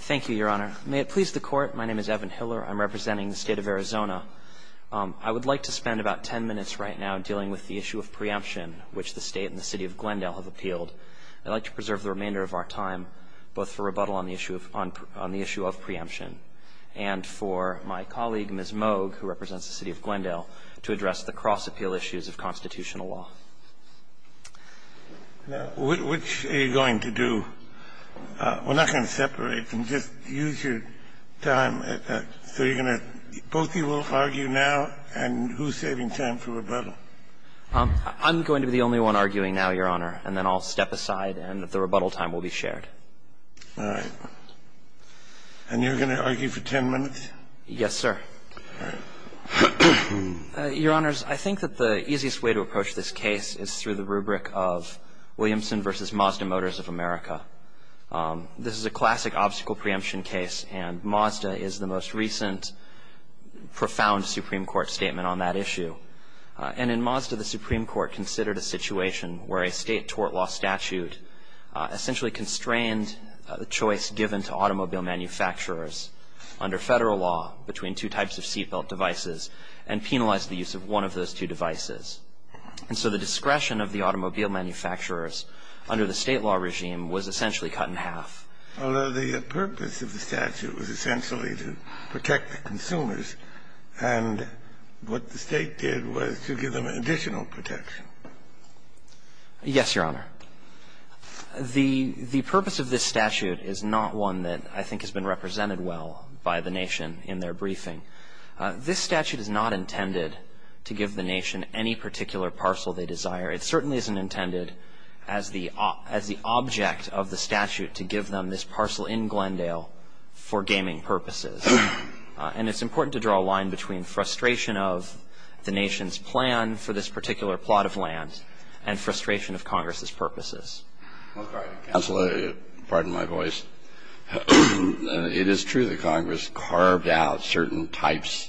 Thank you, Your Honor. May it please the Court, my name is Evan Hiller. I'm representing the State of Arizona. I would like to spend about ten minutes right now dealing with the issue of preemption, which the State and the City of Glendale have appealed. I'd like to preserve the remainder of our time, both for rebuttal on the issue of preemption, and for my colleague, Ms. Moog, who represents the City of Glendale, to address the cross-appeal issues of constitutional law. Now, which are you going to do? We're not going to separate. Just use your time. So you're going to – both of you will argue now, and who's saving time for rebuttal? I'm going to be the only one arguing now, Your Honor, and then I'll step aside and the rebuttal time will be shared. All right. And you're going to argue for ten minutes? Yes, sir. All right. Your Honors, I think that the easiest way to approach this case is through the rubric of Williamson v. Mazda Motors of America. This is a classic obstacle preemption case, and Mazda is the most recent profound Supreme Court statement on that issue. And in Mazda, the Supreme Court considered a situation where a State tort law statute essentially constrained the choice given to automobile manufacturers under Federal law between two types of seatbelt devices and penalized the use of one of those two devices. And so the discretion of the automobile manufacturers under the State law regime was essentially cut in half. Although the purpose of the statute was essentially to protect the consumers, and what the State did was to give them additional protection. Yes, Your Honor. The purpose of this statute is not one that I think has been represented well by the Nation in their briefing. This statute is not intended to give the Nation any particular parcel they desire. It certainly isn't intended as the object of the statute to give them this parcel in Glendale for gaming purposes. And it's important to draw a line between frustration of the Nation's plan for this particular plot of land and frustration of Congress's purposes. Well, pardon me, counsel. Pardon my voice. It is true that Congress carved out certain types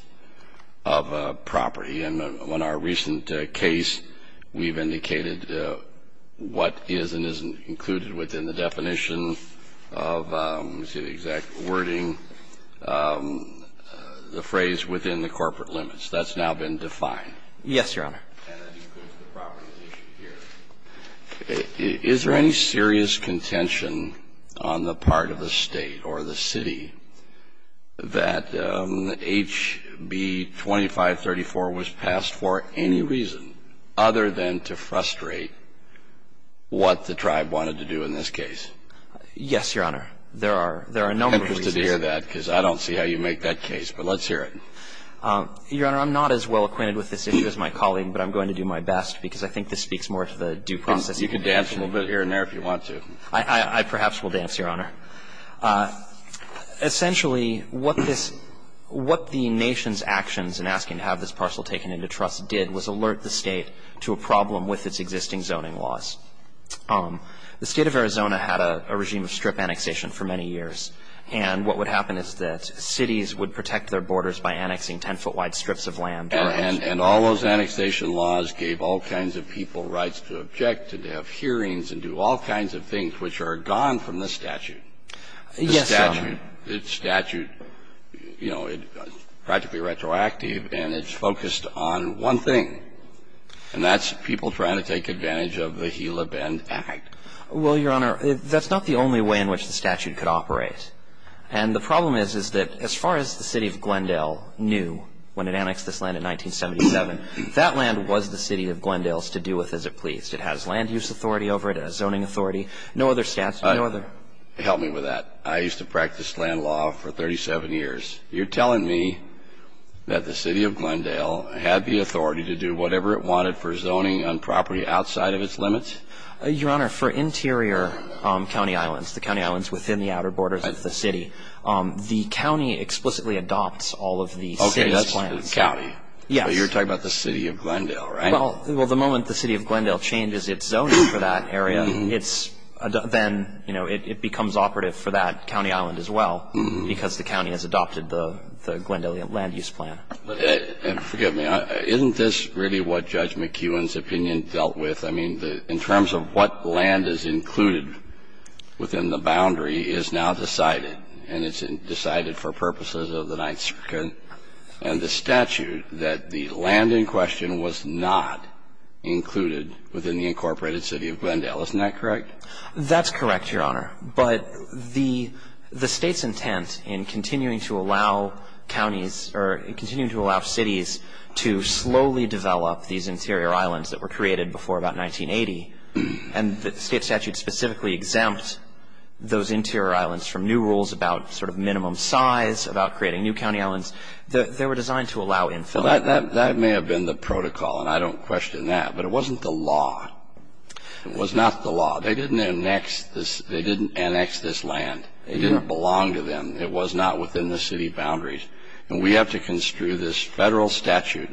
of property. And in our recent case, we've indicated what is and isn't included within the definition of, let me see the exact wording, the phrase within the corporate limits. That's now been defined. Yes, Your Honor. And that includes the property issue here. Is there any serious contention on the part of the State or the City that HB 2534 was passed for any reason other than to frustrate what the tribe wanted to do in this case? Yes, Your Honor. There are no reasons. I'm interested to hear that, because I don't see how you make that case. But let's hear it. Your Honor, I'm not as well acquainted with this issue as my colleague, but I'm going to do my best because I think this speaks more to the due process. You can dance a little bit here and there if you want to. I perhaps will dance, Your Honor. Essentially, what this — what the Nation's actions in asking to have this parcel taken into trust did was alert the State to a problem with its existing zoning laws. The State of Arizona had a regime of strip annexation for many years. And what would happen is that cities would protect their borders by annexing 10-foot-wide strips of land or — And all those annexation laws gave all kinds of people rights to object and to have hearings and do all kinds of things, which are gone from the statute. Yes, Your Honor. The statute, you know, it's practically retroactive, and it's focused on one thing, and that's people trying to take advantage of the Hela Bend Act. Well, Your Honor, that's not the only way in which the statute could operate. And the problem is, is that as far as the City of Glendale knew when it annexed this land in 1977, that land was the City of Glendale's to do with as it pleased. It has land use authority over it. It has zoning authority. No other statute, no other — Help me with that. I used to practice land law for 37 years. You're telling me that the City of Glendale had the authority to do whatever it wanted for zoning on property outside of its limits? Your Honor, for interior county islands, the county islands within the outer borders of the city, the county explicitly adopts all of the city's plans. Okay, that's the county. Yes. But you're talking about the City of Glendale, right? Well, the moment the City of Glendale changes its zoning for that area, it's — then, you know, it becomes operative for that county island as well, because the county has adopted the Glendale land use plan. And forgive me. Isn't this really what Judge McKeown's opinion dealt with? I mean, in terms of what land is included within the boundary is now decided, and it's decided for purposes of the Ninth Circuit and the statute that the land in question was not included within the incorporated City of Glendale. Isn't that correct? That's correct, Your Honor. But the State's intent in continuing to allow counties or continuing to allow cities to slowly develop these interior islands that were created before about 1980 and that the State statute specifically exempts those interior islands from new rules about sort of minimum size, about creating new county islands, they were designed to allow infill. That may have been the protocol, and I don't question that, but it wasn't the law. They didn't annex this — they didn't annex this land. It didn't belong to them. It was not within the City boundaries. And we have to construe this Federal statute,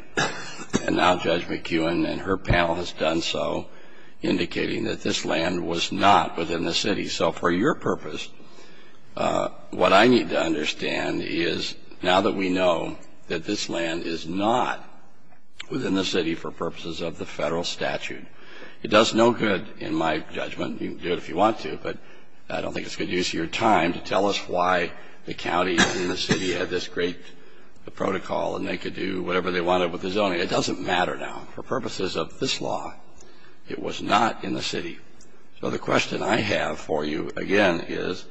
and now Judge McKeown and her panel has done so, indicating that this land was not within the City. So for your purpose, what I need to understand is, now that we know that this land is not within the City for purposes of the Federal statute, it does no good, in my judgment, to say that this land is not within the City. And you can do it if you want to, but I don't think it's good use of your time to tell us why the counties in the City had this great protocol and they could do whatever they wanted with the zoning. It doesn't matter now. For purposes of this law, it was not in the City. So the question I have for you again is,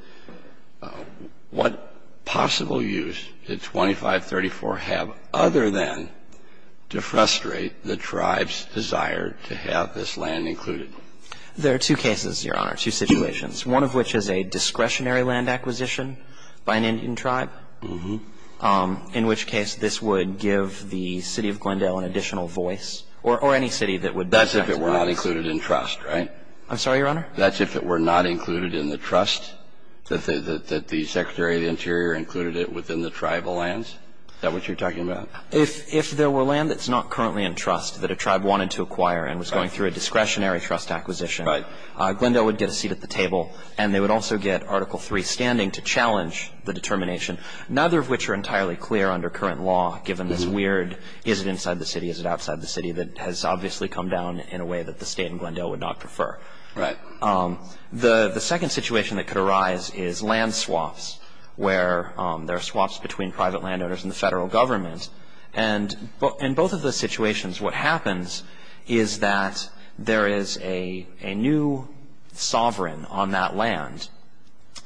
what possible use did 2534 have other than to frustrate the tribe's desire to have this land included? There are two cases, Your Honor, two situations, one of which is a discretionary land acquisition by an Indian tribe, in which case this would give the City of Glendale an additional voice, or any city that would be a discretionary land acquisition. That's if it were not included in trust, right? I'm sorry, Your Honor? That's if it were not included in the trust, that the Secretary of the Interior included it within the tribal lands? Is that what you're talking about? If there were land that's not currently in trust that a tribe wanted to acquire and was going through a discretionary trust acquisition, Glendale would get a seat at the table and they would also get Article III standing to challenge the determination, neither of which are entirely clear under current law, given this weird, is it inside the City, is it outside the City, that has obviously come down in a way that the State and Glendale would not prefer. Right. The second situation that could arise is land swaps, where there are swaps between private landowners and the federal government. And in both of those situations, what happens is that there is a new sovereign on that land.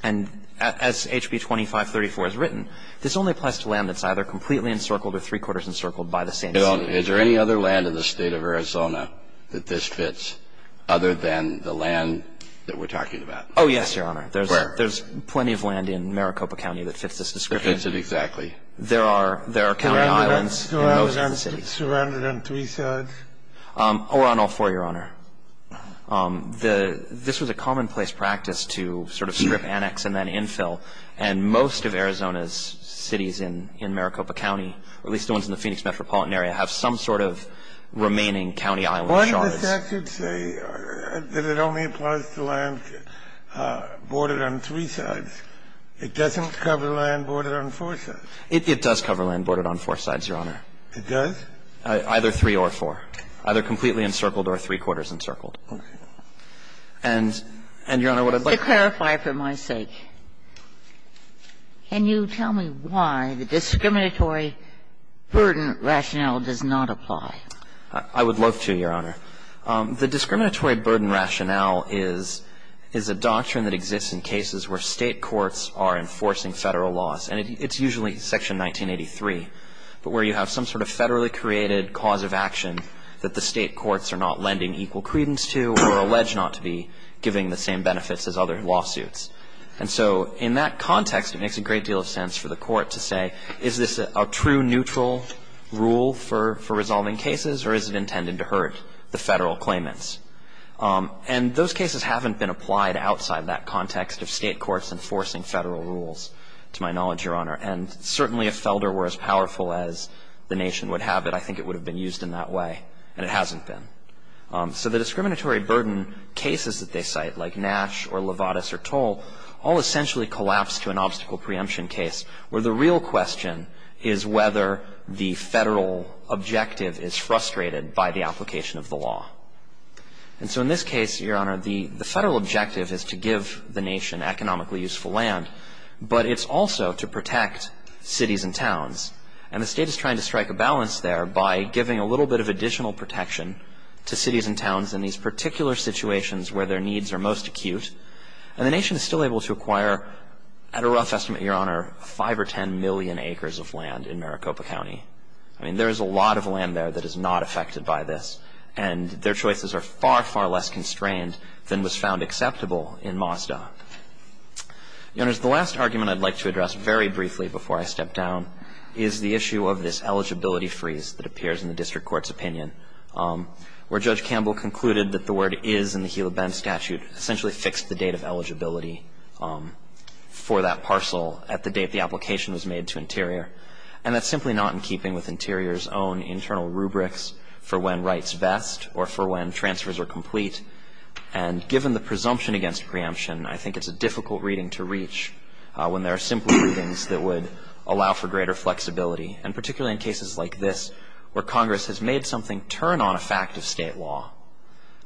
And as HB 2534 has written, this only applies to land that's either completely encircled or three-quarters encircled by the same city. Is there any other land in the State of Arizona that this fits, other than the land that we're talking about? Oh, yes, Your Honor. Where? There's plenty of land in Maricopa County that fits this description. Fits it exactly. There are county islands in those cities. Surrounded on three-thirds? Or on all four, Your Honor. This was a commonplace practice to sort of strip, annex, and then infill. And most of Arizona's cities in Maricopa County, or at least the ones in the Phoenix metropolitan area, have some sort of remaining county island shards. Why does the statute say that it only applies to land bordered on three sides? It doesn't cover land bordered on four sides. It does cover land bordered on four sides, Your Honor. It does? Either three or four. Either completely encircled or three-quarters encircled. Can you tell me why the discriminatory burden rationale does not apply? I would love to, Your Honor. The discriminatory burden rationale is a doctrine that exists in cases where State courts are enforcing Federal laws. And it's usually Section 1983, but where you have some sort of Federally created cause of action that the State courts are not lending equal credence to or allege not to be giving the same benefits as other lawsuits. And so in that context, it makes a great deal of sense for the Court to say, is this a true neutral rule for resolving cases, or is it intended to hurt the Federal claimants? And those cases haven't been applied outside that context of State courts enforcing Federal rules, to my knowledge, Your Honor. And certainly if Felder were as powerful as the nation would have it, I think it would have been used in that way. And it hasn't been. So the discriminatory burden cases that they cite, like Nash or Lovatis or Toll, all essentially collapse to an obstacle preemption case where the real question is whether the Federal objective is frustrated by the application of the law. And so in this case, Your Honor, the Federal objective is to give the nation economically useful land, And the State is trying to strike a balance there by giving a little bit of additional protection to cities and towns in these particular situations where their needs are most acute. And the nation is still able to acquire, at a rough estimate, Your Honor, 5 or 10 million acres of land in Maricopa County. I mean, there is a lot of land there that is not affected by this. And their choices are far, far less constrained than was found acceptable in Mazda. Your Honor, the last argument I'd like to address very briefly before I step down is the issue of this eligibility freeze that appears in the district court's opinion, where Judge Campbell concluded that the word is in the Hila Bend statute essentially fixed the date of eligibility for that parcel at the date the application was made to Interior. And that's simply not in keeping with Interior's own internal rubrics for when rights best or for when transfers are complete. And given the presumption against preemption, I think it's a difficult reading to reach when there are simple readings that would allow for greater flexibility. And particularly in cases like this, where Congress has made something turn on a fact of state law.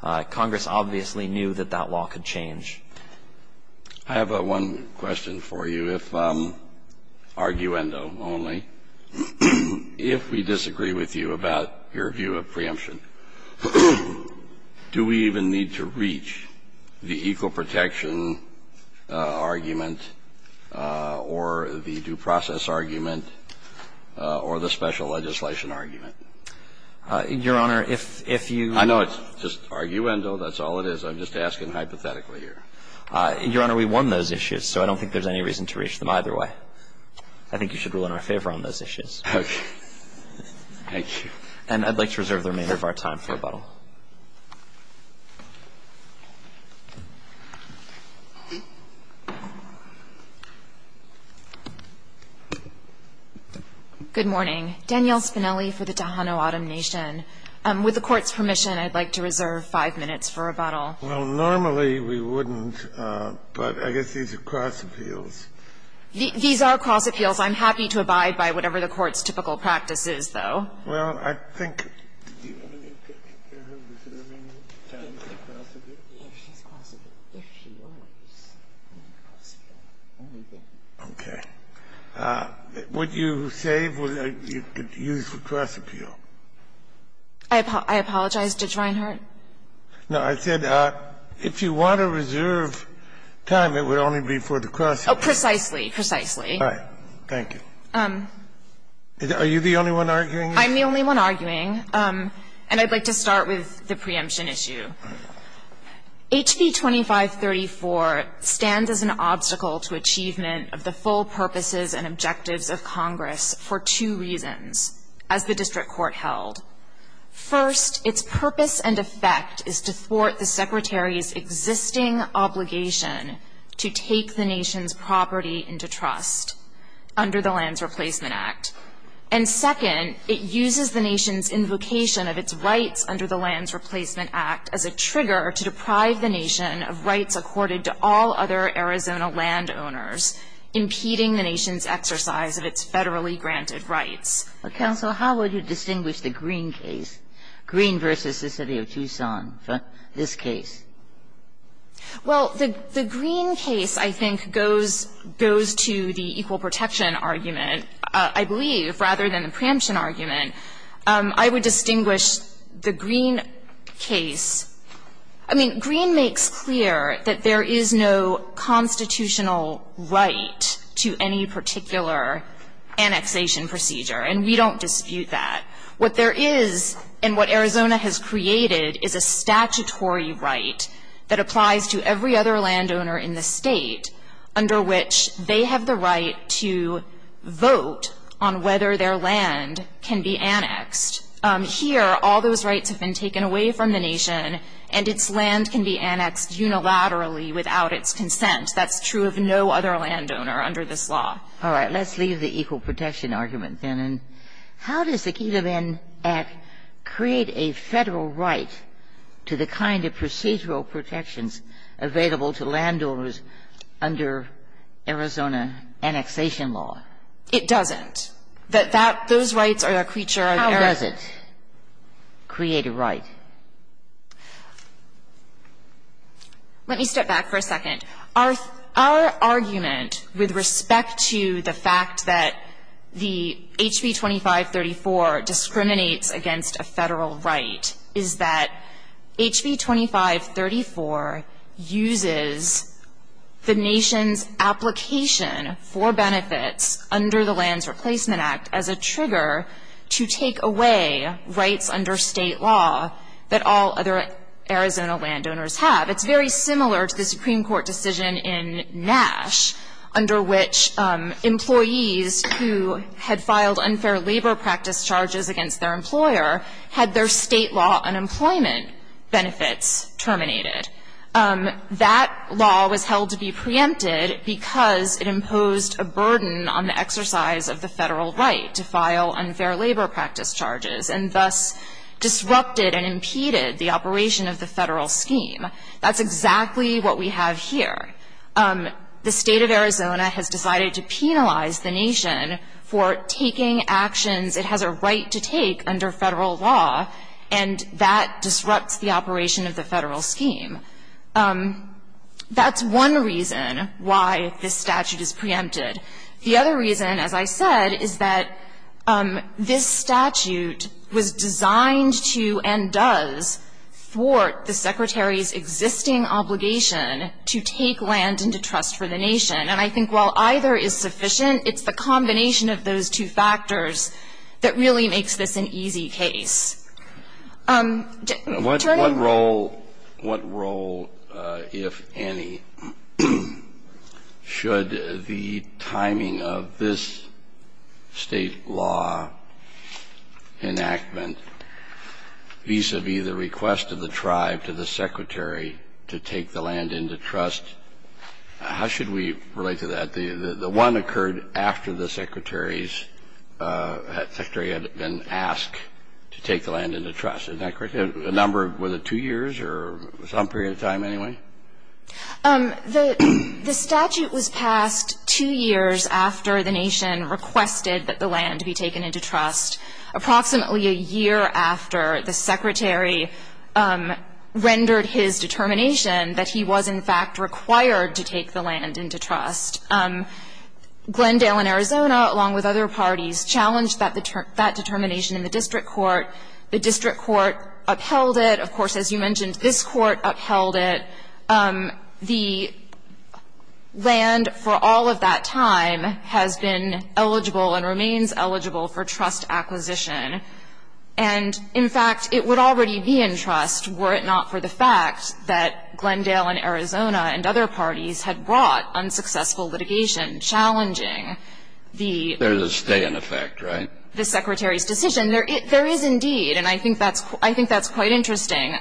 Congress obviously knew that that law could change. I have one question for you, if, arguendo only. If we disagree with you about your view of preemption, do we even need to reach the equal protection argument or the due process argument or the special legislation argument? Your Honor, if you – I know it's just arguendo, that's all it is. I'm just asking hypothetically here. Your Honor, we won those issues, so I don't think there's any reason to reach them either way. I think you should rule in our favor on those issues. Okay. Thank you. And I'd like to reserve the remainder of our time. I'd like to reserve our time for rebuttal. Good morning. Danielle Spinelli for the Tohono O'odham Nation. With the Court's permission, I'd like to reserve five minutes for rebuttal. Well, normally we wouldn't, but I guess these are cross appeals. These are cross appeals. I'm happy to abide by whatever the Court's typical practice is, though. Well, I think you're going to take care of reserving time for cross appeal? If she's cross appeal, if she wants to be cross appeal, anything. Okay. Would you save what you could use for cross appeal? I apologize. Did you find her? No. I said if you want to reserve time, it would only be for the cross appeal. Precisely. Precisely. All right. Thank you. Are you the only one arguing? I'm the only one arguing. And I'd like to start with the preemption issue. HB 2534 stands as an obstacle to achievement of the full purposes and objectives of Congress for two reasons, as the district court held. First, its purpose and effect is to thwart the Secretary's existing obligation to take the Nation's property into trust under the Lands Replacement Act. And second, it uses the Nation's invocation of its rights under the Lands Replacement Act as a trigger to deprive the Nation of rights accorded to all other Arizona landowners, impeding the Nation's exercise of its federally granted rights. Counsel, how would you distinguish the Green case, Green v. the City of Tucson, from this case? Well, the Green case, I think, goes to the equal protection argument. I believe, rather than the preemption argument, I would distinguish the Green case. I mean, Green makes clear that there is no constitutional right to any particular annexation procedure, and we don't dispute that. What there is, and what Arizona has created, is a statutory right that applies to every other landowner in the State, under which they have the right to vote on whether their land can be annexed. Here, all those rights have been taken away from the Nation, and its land can be annexed unilaterally without its consent. That's true of no other landowner under this law. All right. Let's leave the equal protection argument, then. And how does the Kelovin Act create a Federal right to the kind of procedural protections available to landowners under Arizona annexation law? It doesn't. That those rights are a creature of Arizona. How does it create a right? Let me step back for a second. Our argument with respect to the fact that the HB 2534 discriminates against a Federal right is that HB 2534 uses the Nation's application for benefits under the Lands Replacement Act as a trigger to take away rights under State law that all other Arizona landowners have. It's very similar to the Supreme Court decision in Nash, under which employees who had filed unfair labor practice charges against their employer had their State law unemployment benefits terminated. That law was held to be preempted because it imposed a burden on the exercise of the Federal right to file unfair labor practice charges, and thus disrupted and impeded the operation of the Federal scheme. That's exactly what we have here. The State of Arizona has decided to penalize the Nation for taking actions it has a right to take under Federal law, and that disrupts the operation of the Federal scheme. That's one reason why this statute is preempted. The other reason, as I said, is that this statute was designed to and does thwart the Secretary's existing obligation to take land into trust for the Nation. And I think while either is sufficient, it's the combination of those two factors that really makes this an easy case. What role, if any, should the timing of this State law enactment vis-à-vis the request of the tribe to the Secretary to take the land into trust? How should we relate to that? The one occurred after the Secretary's, the Secretary had been asked to take the land into trust, is that correct? A number, was it two years or some period of time anyway? The statute was passed two years after the Nation requested that the land be taken into trust. Approximately a year after the Secretary rendered his determination that he was in fact required to take the land into trust. Glendale and Arizona, along with other parties, challenged that determination in the district court. The district court upheld it. Of course, as you mentioned, this Court upheld it. The land for all of that time has been eligible and remains eligible for trust acquisition. And in fact, it would already be in trust were it not for the fact that Glendale and Arizona and other parties had brought unsuccessful litigation challenging the the Secretary's decision. There is indeed, and I think that's quite interesting,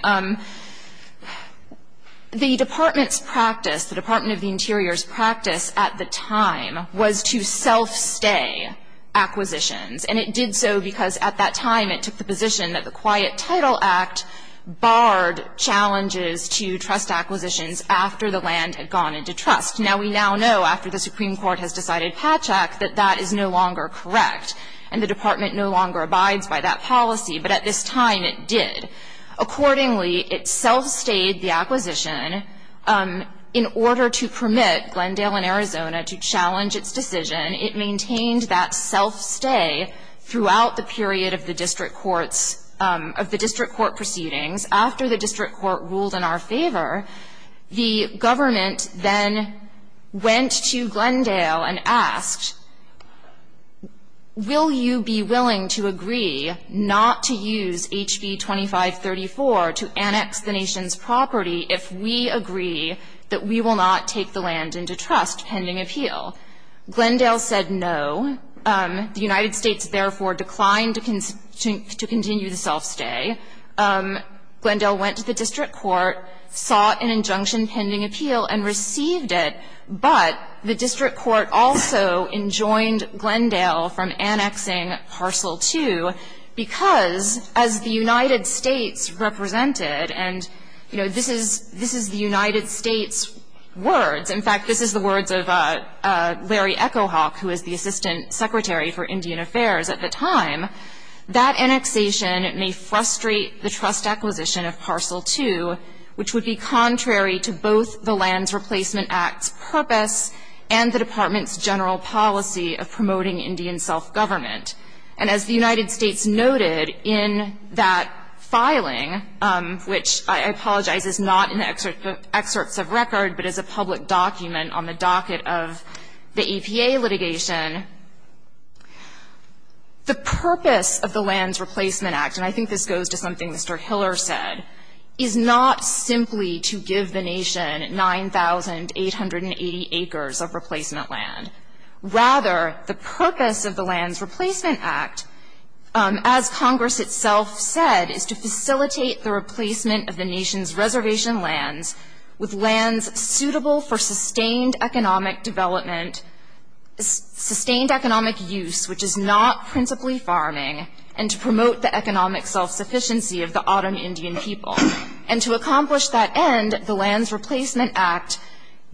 the Department's practice, the Department of the Interior's practice at the time was to self-stay acquisitions. And it did so because at that time it took the position that the Quiet Title Act barred challenges to trust acquisitions after the land had gone into trust. Now, we now know after the Supreme Court has decided patch act that that is no longer correct, and the Department no longer abides by that policy, but at this time it did. Accordingly, it self-stayed the acquisition. In order to permit Glendale and Arizona to challenge its decision, it maintained that self-stay throughout the period of the district courts, of the district court proceedings. After the district court ruled in our favor, the government then went to Glendale and asked, will you be willing to agree not to use HB 2534 to annex the nation's property if we agree that we will not take the land into trust pending appeal? Glendale said no. The United States, therefore, declined to continue the self-stay. Glendale went to the district court, saw an injunction pending appeal, and received it, but the district court also enjoined Glendale from annexing parcel 2 because as the United States represented, and, you know, this is the United States words. In fact, this is the words of Larry Echo Hawk, who was the Assistant Secretary for Indian Affairs at the time, that annexation may frustrate the trust acquisition of parcel 2, which would be contrary to both the Lands Replacement Act's purpose and the Department's general policy of promoting Indian self-government. And as the United States noted in that filing, which I apologize is not in the excerpts of record, but is a public document on the docket of the APA litigation, the purpose of the Lands Replacement Act, and I think this goes to something Mr. Hiller said, is not simply to give the nation 9,880 acres of replacement land. Rather, the purpose of the Lands Replacement Act, as Congress itself said, is to facilitate the replacement of the nation's reservation lands with lands suitable for sustained economic development, sustained economic use, which is not principally farming, and to promote the economic self-sufficiency of the autumn Indian people. And to accomplish that end, the Lands Replacement Act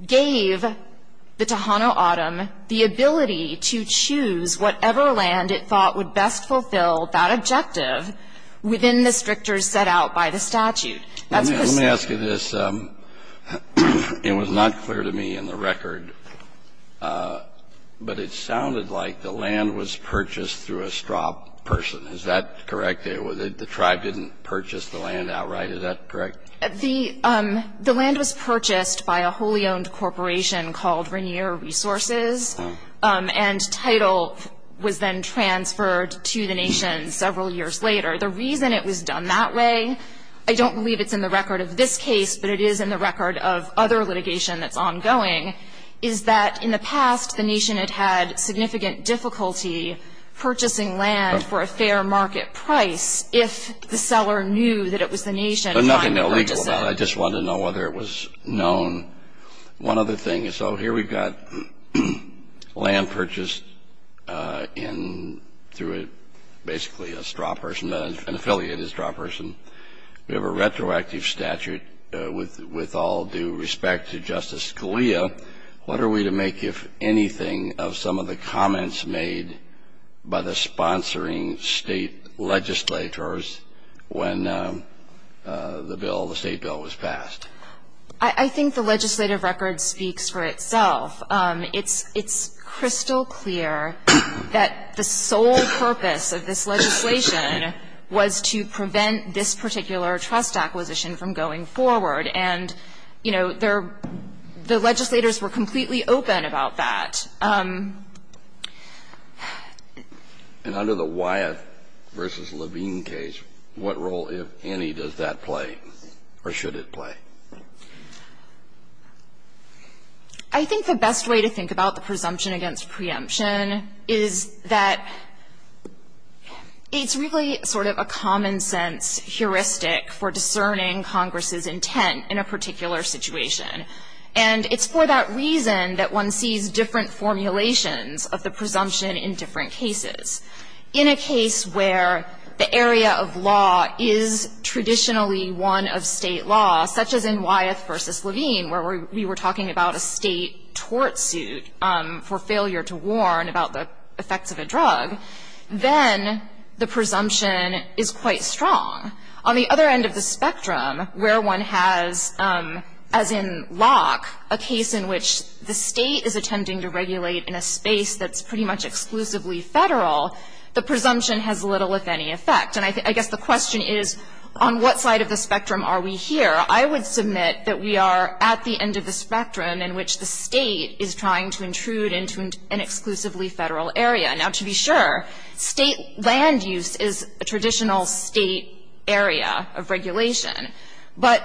gave the Tohono O'odham the ability to choose whatever land it thought would best fulfill that objective within the strictures set out by the statute. That's because the land was purchased through a straw person. Is that correct? The tribe didn't purchase the land outright. Is that correct? The land was purchased by a wholly-owned corporation called Rainier Resources, and title was then transferred to the nation several years later. The reason it was done that way, I don't believe it's in the record of this case, but it is in the record of other litigation that's ongoing, is that in the past, the nation had had significant difficulty purchasing land for a fair market price if the seller knew that it was the nation trying to purchase it. There's nothing illegal about it. I just wanted to know whether it was known. One other thing. So here we've got land purchased through basically a straw person, an affiliated straw person. We have a retroactive statute with all due respect to Justice Scalia. What are we to make, if anything, of some of the comments made by the sponsoring state legislators when the state bill was passed? I think the legislative record speaks for itself. It's crystal clear that the sole purpose of this legislation was to prevent this particular trust acquisition from going forward, and, you know, the legislators were completely open about that. And under the Wyatt v. Levine case, what role, if any, does that play, or should it play? I think the best way to think about the presumption against preemption is that it's really sort of a common-sense heuristic for discerning Congress's intent in a particular situation. And it's for that reason that one sees different formulations of the presumption in different cases. In a case where the area of law is traditionally one of State law, such as in Wyatt v. Levine, where we were talking about a State tort suit for failure to warn about the effects of a drug, then the presumption is quite strong. On the other end of the spectrum, where one has, as in Locke, a case in which the State is attempting to regulate in a space that's pretty much exclusively Federal, the presumption has little, if any, effect. And I guess the question is, on what side of the spectrum are we here? I would submit that we are at the end of the spectrum in which the State is trying to intrude into an exclusively Federal area. Now, to be sure, State land use is a traditional State area of regulation. But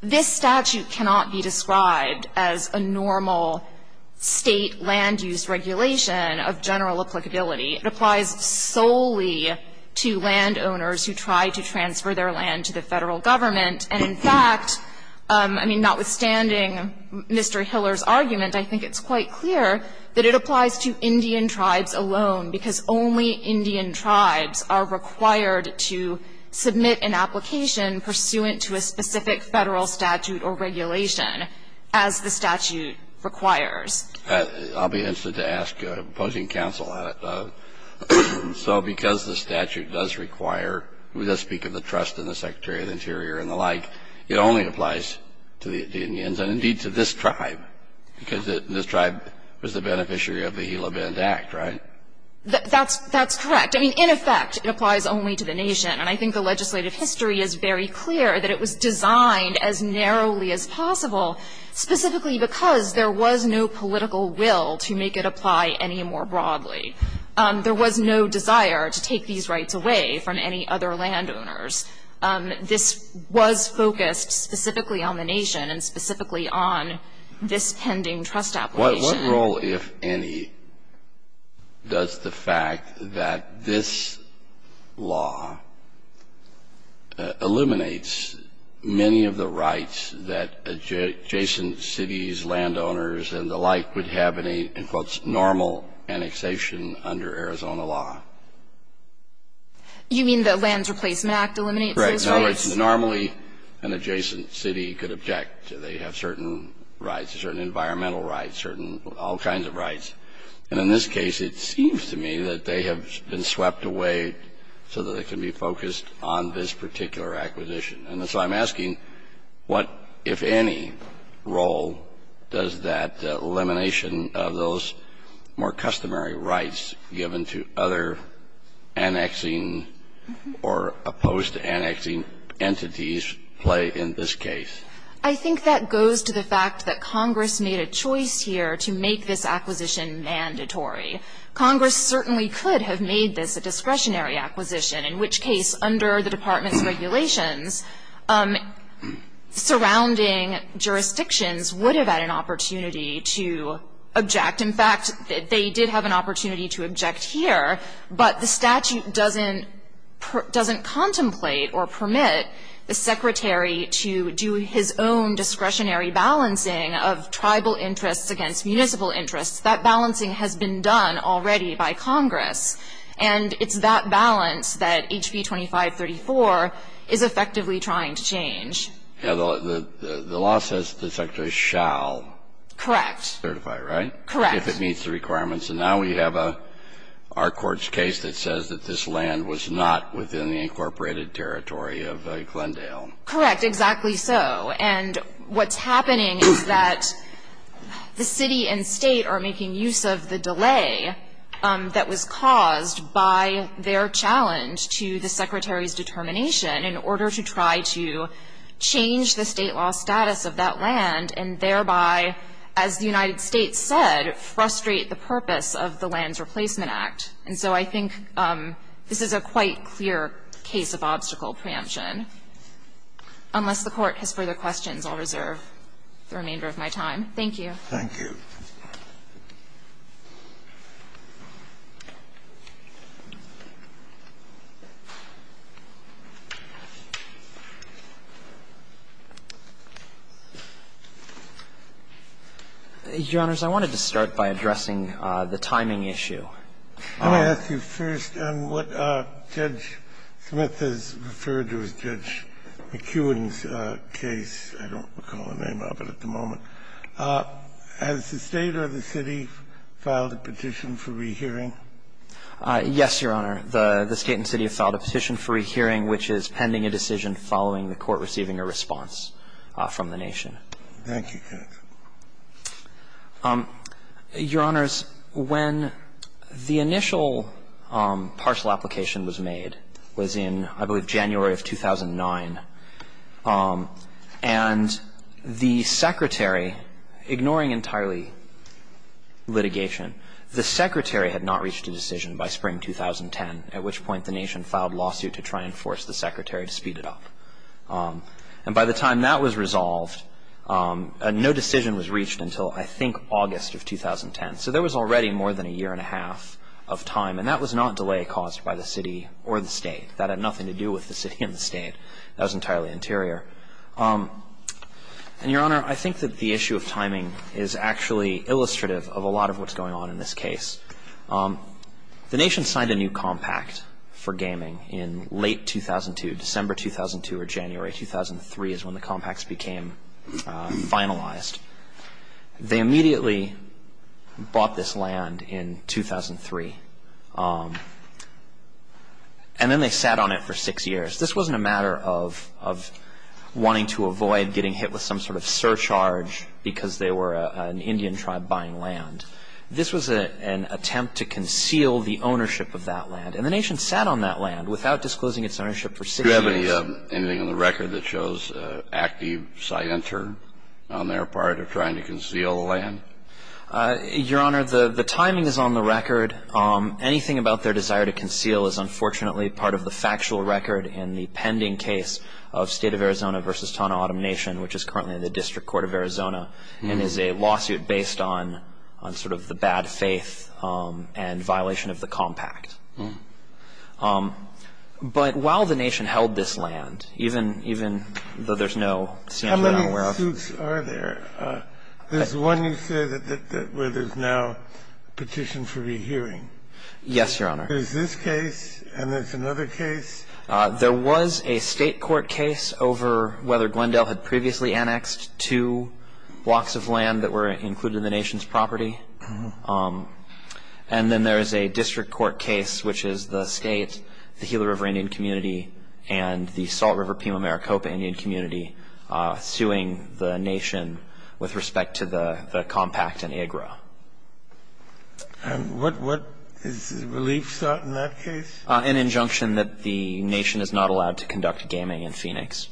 this statute cannot be described as a normal State land use regulation of general applicability. It applies solely to landowners who try to transfer their land to the Federal government. And, in fact, I mean, notwithstanding Mr. Hiller's argument, I think it's quite clear that it applies to Indian tribes alone, because only Indian tribes are required to submit an application pursuant to a specific Federal statute or regulation as the statute requires. I'll be interested to ask, opposing counsel, so because the statute does require to speak of the trust in the Secretary of the Interior and the like, it only applies to the Indians and, indeed, to this tribe, because this tribe was the beneficiary of the Gila Bend Act, right? That's correct. I mean, in effect, it applies only to the nation. And I think the legislative history is very clear that it was designed as narrowly as possible, specifically because there was no political will to make it apply any more broadly. There was no desire to take these rights away from any other landowners. This was focused specifically on the nation and specifically on this pending trust application. Kennedy, what role, if any, does the fact that this law eliminates many of the rights that adjacent cities, landowners and the like would have in a, in quotes, normal annexation under Arizona law? You mean the Lands Replacement Act eliminates those rights? Right. Normally, an adjacent city could object. They have certain rights, certain environmental rights, certain all kinds of rights. And in this case, it seems to me that they have been swept away so that it can be focused on this particular acquisition. And so I'm asking what, if any, role does that elimination of those more customary rights given to other annexing or opposed to annexing entities play in this case? I think that goes to the fact that Congress made a choice here to make this acquisition mandatory. Congress certainly could have made this a discretionary acquisition, in which case under the Department's regulations, surrounding jurisdictions would have had an opportunity to object. In fact, they did have an opportunity to object here, but the statute doesn't contemplate or permit the Secretary to do his own discretionary balancing of tribal interests against municipal interests. That balancing has been done already by Congress. And it's that balance that HB 2534 is effectively trying to change. Yeah. The law says the Secretary shall. Correct. Certify, right? If it meets the requirements. And now we have our Court's case that says that this land was not within the incorporated territory of Glendale. Correct. Exactly so. And what's happening is that the City and State are making use of the delay that was caused by their challenge to the Secretary's determination in order to try to change the State law status of that land and thereby, as the United States said, frustrate the purpose of the Lands Replacement Act. And so I think this is a quite clear case of obstacle preemption. Unless the Court has further questions, I'll reserve the remainder of my time. Thank you. Thank you. Your Honors, I wanted to start by addressing the timing issue. Can I ask you first on what Judge Smith has referred to as Judge McEwen's case? I don't recall the name of it at the moment. Has the State or the City filed a petition for rehearing? Yes, Your Honor. The State and City have filed a petition for rehearing, which is pending a decision following the Court receiving a response from the nation. Thank you, counsel. Your Honors, when the initial parcel application was made was in, I believe, January of 2009. And the Secretary, ignoring entirely litigation, the Secretary had not reached a decision by spring 2010, at which point the nation filed a lawsuit to try and force the Secretary to speed it up. And by the time that was resolved, no decision was reached until, I think, August of 2010. So there was already more than a year and a half of time, and that was not delay caused by the City or the State. That had nothing to do with the City and the State. That was entirely interior. And, Your Honor, I think that the issue of timing is actually illustrative of a lot of what's going on in this case. The nation signed a new compact for gaming in late 2002, December 2002 or January 2003 is when the compacts became finalized. They immediately bought this land in 2003, and then they sat on it for six years. This wasn't a matter of wanting to avoid getting hit with some sort of surcharge because they were an Indian tribe buying land. This was an attempt to conceal the ownership of that land. And the nation sat on that land without disclosing its ownership for six years. Do you have anything on the record that shows active side enter on their part of trying to conceal the land? Your Honor, the timing is on the record. Anything about their desire to conceal is unfortunately part of the factual record in the pending case of State of Arizona v. Taunau-Ottom Nation, which is currently in the District Court of Arizona, and is a lawsuit based on sort of the bad faith and violation of the compact. But while the nation held this land, even though there's no standard I'm aware of. How many suits are there? There's one you say where there's now a petition for rehearing. Yes, Your Honor. There's this case, and there's another case. There was a State court case over whether Glendale had previously annexed two blocks of land that were included in the nation's property. And then there is a district court case, which is the State, the Gila River Indian Community, and the Salt River-Pima-Maricopa Indian Community suing the nation with respect to the compact in Agra. And what is the relief sought in that case? An injunction that the nation is not allowed to conduct gaming in Phoenix.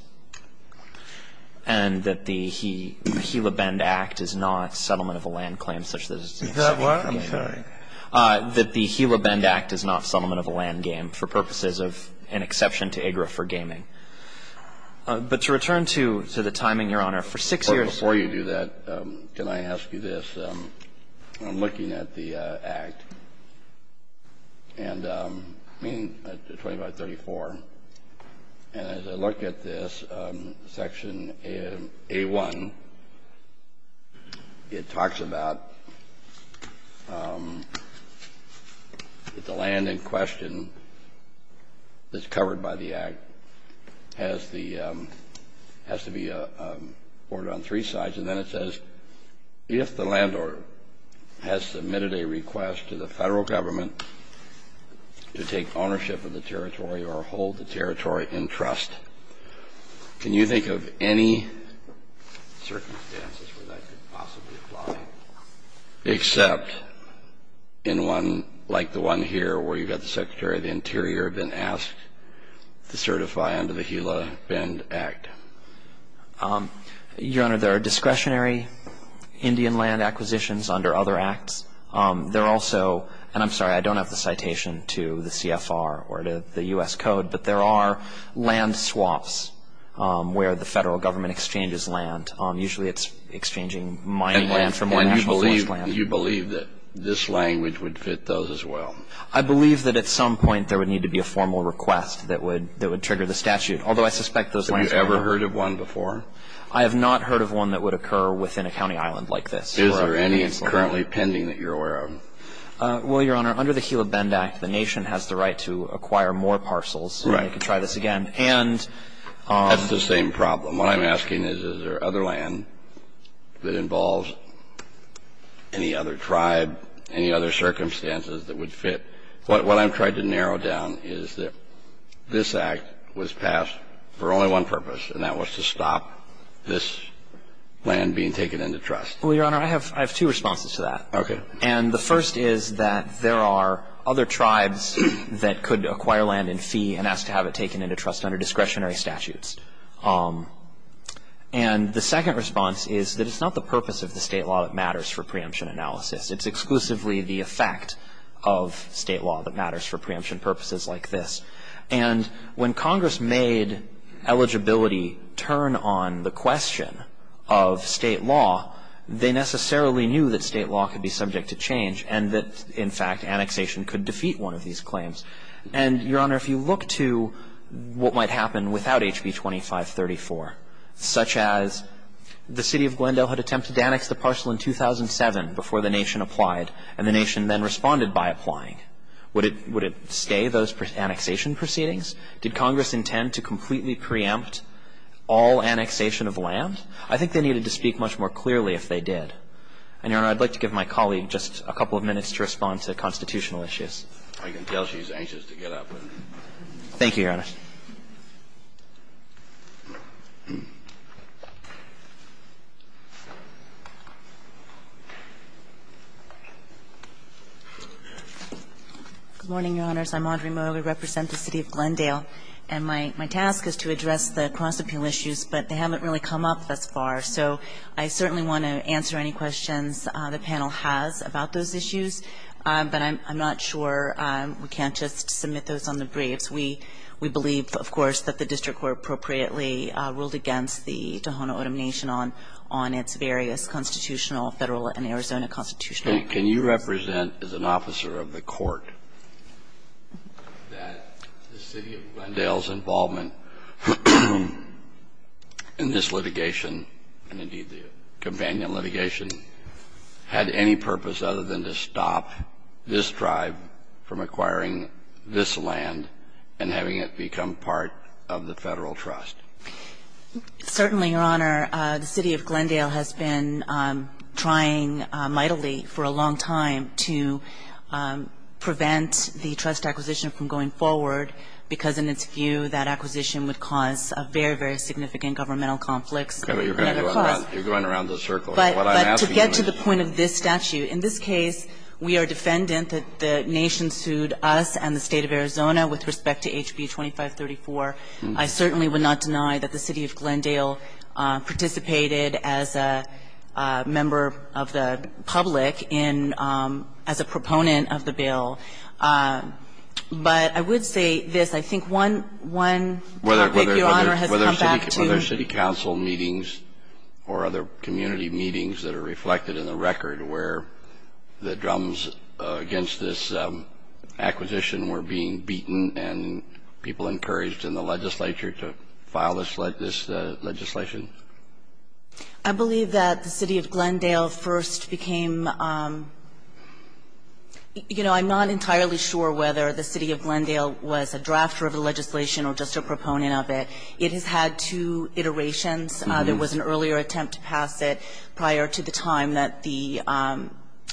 And that the Gila Bend Act is not settlement of a land claim such that it's an exception for gaming. Is that what? I'm sorry. That the Gila Bend Act is not settlement of a land game for purposes of an exception to Agra for gaming. But to return to the timing, Your Honor, for six years. Before you do that, can I ask you this? I'm looking at the Act, and I mean 2534. And as I look at this, section A1, it talks about the land in question that's covered by the Act has the – has to be ordered on three sides. And then it says, if the landlord has submitted a request to the federal government to take ownership of the territory or hold the territory in trust, can you think of any circumstances where that could possibly apply? Except in one like the one here where you've got the Secretary of the Interior been asked to certify under the Gila Bend Act. Your Honor, there are discretionary Indian land acquisitions under other acts. There are also – and I'm sorry, I don't have the citation to the CFR or to the U.S. Code, but there are land swaps where the federal government exchanges land. Usually it's exchanging mining land for more nationalized land. And you believe that this language would fit those as well? I believe that at some point there would need to be a formal request that would trigger the statute. Although I suspect those lands would not. Have you ever heard of one before? I have not heard of one that would occur within a county island like this. Is there any currently pending that you're aware of? Well, Your Honor, under the Gila Bend Act, the nation has the right to acquire more parcels. Right. I could try this again. And – That's the same problem. What I'm asking is, is there other land that involves any other tribe, any other circumstances that would fit? What I've tried to narrow down is that this Act was passed for only one purpose, and that was to stop this land being taken into trust. Well, Your Honor, I have two responses to that. Okay. And the first is that there are other tribes that could acquire land in fee and ask to have it taken into trust under discretionary statutes. And the second response is that it's not the purpose of the State law that matters for preemption analysis. It's exclusively the effect of State law that matters for preemption purposes like this. And when Congress made eligibility turn on the question of State law, they necessarily knew that State law could be subject to change and that, in fact, annexation could defeat one of these claims. And, Your Honor, if you look to what might happen without HB 2534, such as the city of Glendale had attempted to annex the parcel in 2007 before the nation applied and the nation then responded by applying, would it stay, those annexation proceedings? Did Congress intend to completely preempt all annexation of land? I think they needed to speak much more clearly if they did. And, Your Honor, I'd like to give my colleague just a couple of minutes to respond to constitutional issues. I can tell she's anxious to get up. Thank you, Your Honor. Good morning, Your Honors. I'm Audrey Moe. I represent the city of Glendale. And my task is to address the cross-appeal issues, but they haven't really come up thus far. So I certainly want to answer any questions the panel has about those issues. But I'm not sure we can't just submit those on the briefs. We believe, of course, that the district court appropriately ruled against the Tohono O'odham Nation on its various constitutional, Federal and Arizona constitutional claims. Can you represent as an officer of the court that the city of Glendale's involvement in this litigation, and indeed the companion litigation, had any purpose other than to stop this tribe from acquiring this land and having it become part of the Federal Trust? Certainly, Your Honor. The city of Glendale has been trying mightily for a long time to prevent the trust acquisition from going forward, because in its view that acquisition would cause a very, very significant governmental conflict. Okay. But you're going around the circle. What I'm asking you is to get to the point of this statute. In this case, we are defendant that the Nation sued us and the State of Arizona with respect to HB 2534. I certainly would not deny that the city of Glendale participated as a member of the public in as a proponent of the bill. But I would say this. I think one topic, Your Honor, has come back to. Whether city council meetings or other community meetings that are reflected in the record where the drums against this acquisition were being beaten and people encouraged in the legislature to file this legislation. I believe that the city of Glendale first became you know, I'm not entirely sure whether the city of Glendale was a drafter of the legislation or just a proponent It has had two iterations. There was an earlier attempt to pass it prior to the time that the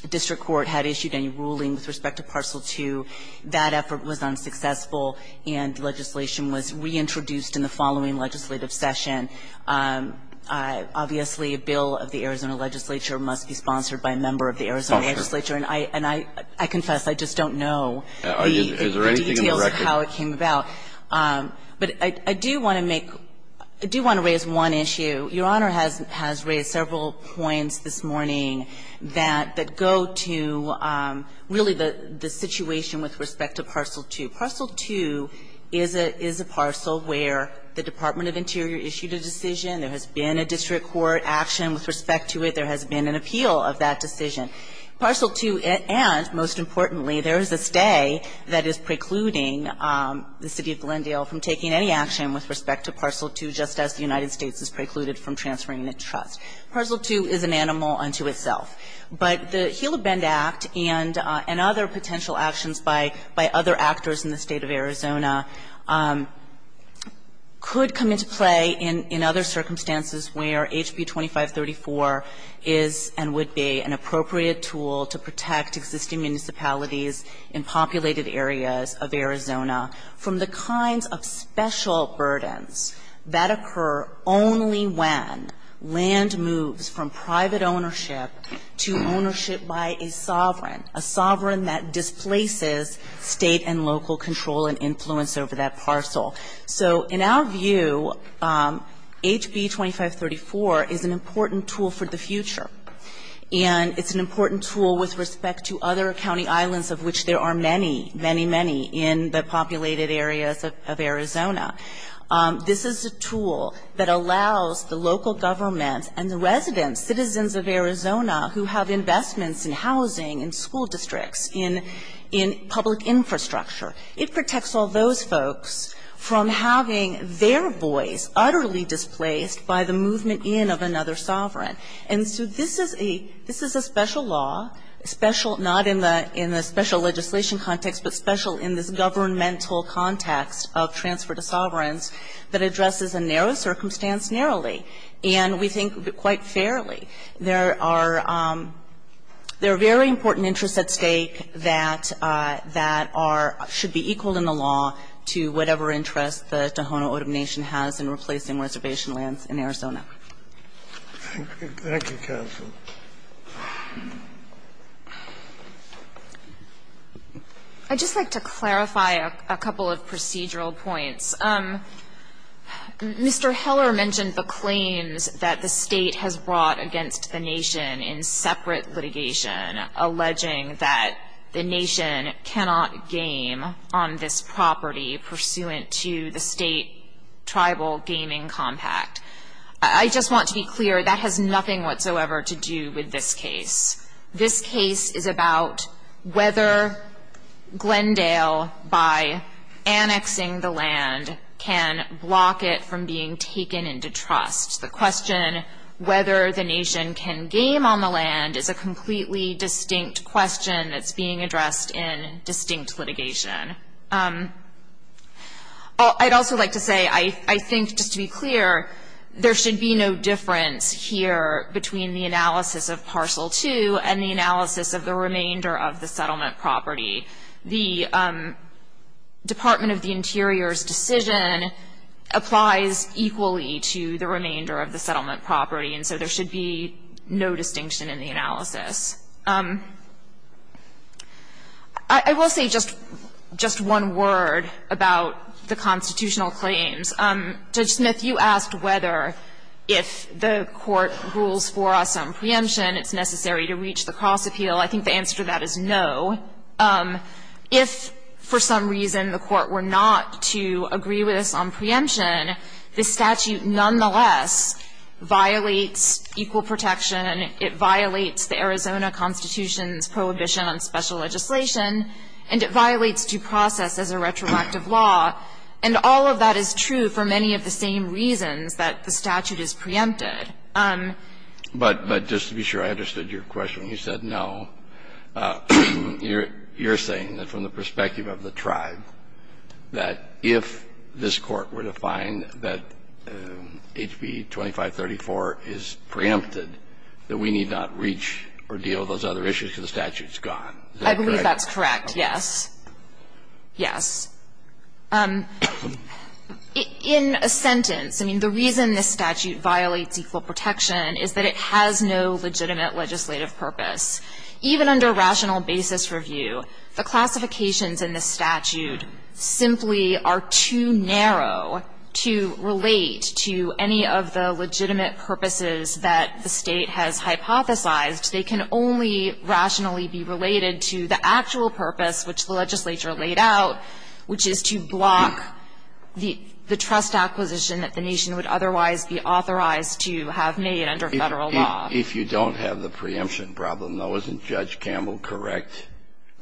district court had issued any ruling with respect to Parcel 2. That effort was unsuccessful and legislation was reintroduced in the following legislative session. Obviously, a bill of the Arizona legislature must be sponsored by a member of the Arizona legislature. And I confess, I just don't know the details of how it came about. But I do want to make, I do want to raise one issue. Your Honor has raised several points this morning that go to really the situation with respect to Parcel 2. Parcel 2 is a parcel where the Department of Interior issued a decision. There has been a district court action with respect to it. There has been an appeal of that decision. Parcel 2, and most importantly, there is a stay that is precluding the city of Glendale from taking any action with respect to Parcel 2, just as the United States has precluded from transferring the trust. Parcel 2 is an animal unto itself. But the Gila Bend Act and other potential actions by other actors in the State of Arizona could come into play in other circumstances where HB 2534 is and would be an appropriate tool to protect existing municipalities in populated areas of Arizona from the kinds of special burdens that occur only when land moves from private ownership to ownership by a sovereign, a sovereign that displaces State and local control and influence over that parcel. So in our view, HB 2534 is an important tool for the future. And it's an important tool with respect to other county islands of which there are many, many, many in the populated areas of Arizona. This is a tool that allows the local government and the residents, citizens of Arizona who have investments in housing, in school districts, in public infrastructure, it protects all those folks from having their voice utterly displaced by the movement in of another sovereign. And so this is a special law, special not in the special legislation context, but special in this governmental context of transfer to sovereigns that addresses a narrow circumstance narrowly, and we think quite fairly. There are very important interests at stake that are or should be equal in the law to whatever interest the Tohono O'odham Nation has in replacing reservation lands in Arizona. Thank you, counsel. I'd just like to clarify a couple of procedural points. Mr. Heller mentioned the claims that the State has brought against the Nation in separate litigation alleging that the Nation cannot game on this property pursuant to the State Tribal Gaming Compact. I just want to be clear, that has nothing whatsoever to do with this case. This case is about whether Glendale, by annexing the land, can block it from being taken into trust. The question whether the Nation can game on the land is a completely distinct question that's being addressed in distinct litigation. I'd also like to say I think, just to be clear, there should be no difference here between the analysis of Parcel 2 and the analysis of the remainder of the settlement property. The Department of the Interior's decision applies equally to the remainder of the settlement property, and so there should be no distinction in the analysis. I will say just one word about the constitutional claims. Judge Smith, you asked whether if the Court rules for us on preemption, it's necessary to reach the cross-appeal. I think the answer to that is no. If for some reason the Court were not to agree with us on preemption, the statute nonetheless violates equal protection. It violates the Arizona Constitution's prohibition on special legislation. And it violates due process as a retroactive law. And all of that is true for many of the same reasons that the statute is preempted. But just to be sure, I understood your question. You said no. You're saying that from the perspective of the tribe, that if this Court were to find that HB 2534 is preempted, that we need not reach or deal with those other issues because the statute's gone. Is that correct? I believe that's correct, yes. Yes. In a sentence, I mean, the reason this statute violates equal protection is that it has no legitimate legislative purpose. Even under rational basis review, the classifications in this statute simply are too narrow to relate to any of the legitimate purposes that the State has hypothesized. They can only rationally be related to the actual purpose which the legislature laid out, which is to block the trust acquisition that the nation would otherwise be authorized to have made under Federal law. If you don't have the preemption problem, though, isn't Judge Campbell correct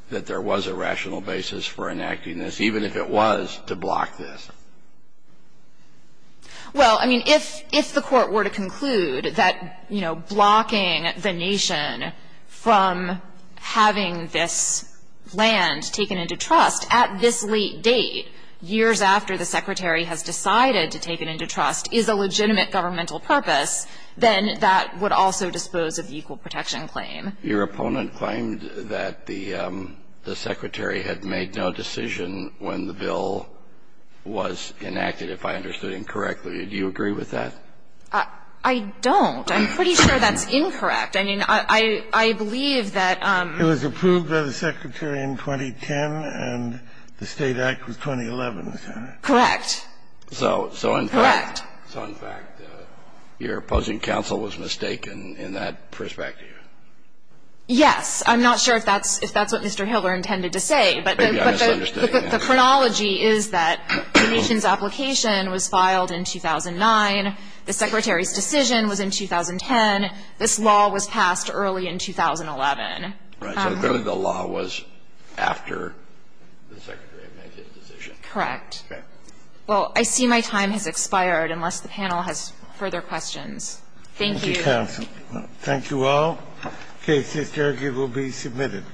that there was a rational basis for enacting this, even if it was to block this? Well, I mean, if the Court were to conclude that, you know, blocking the nation from having this land taken into trust at this late date, years after the Secretary has decided to take it into trust, is a legitimate governmental purpose, then that would also dispose of the equal protection claim. Your opponent claimed that the Secretary had made no decision when the bill was enacted, if I understood incorrectly. Do you agree with that? I don't. I'm pretty sure that's incorrect. I mean, I believe that the State Act was 2011. Correct. Correct. So in fact, your opposing counsel was mistaken in that perspective. Yes. I'm not sure if that's what Mr. Hiller intended to say. But the chronology is that the nation's application was filed in 2009. The Secretary's decision was in 2010. This law was passed early in 2011. Right. So the law was after the Secretary made his decision. Correct. Okay. Well, I see my time has expired, unless the panel has further questions. Thank you. Thank you, counsel. Thank you all. The case is there. It will be submitted.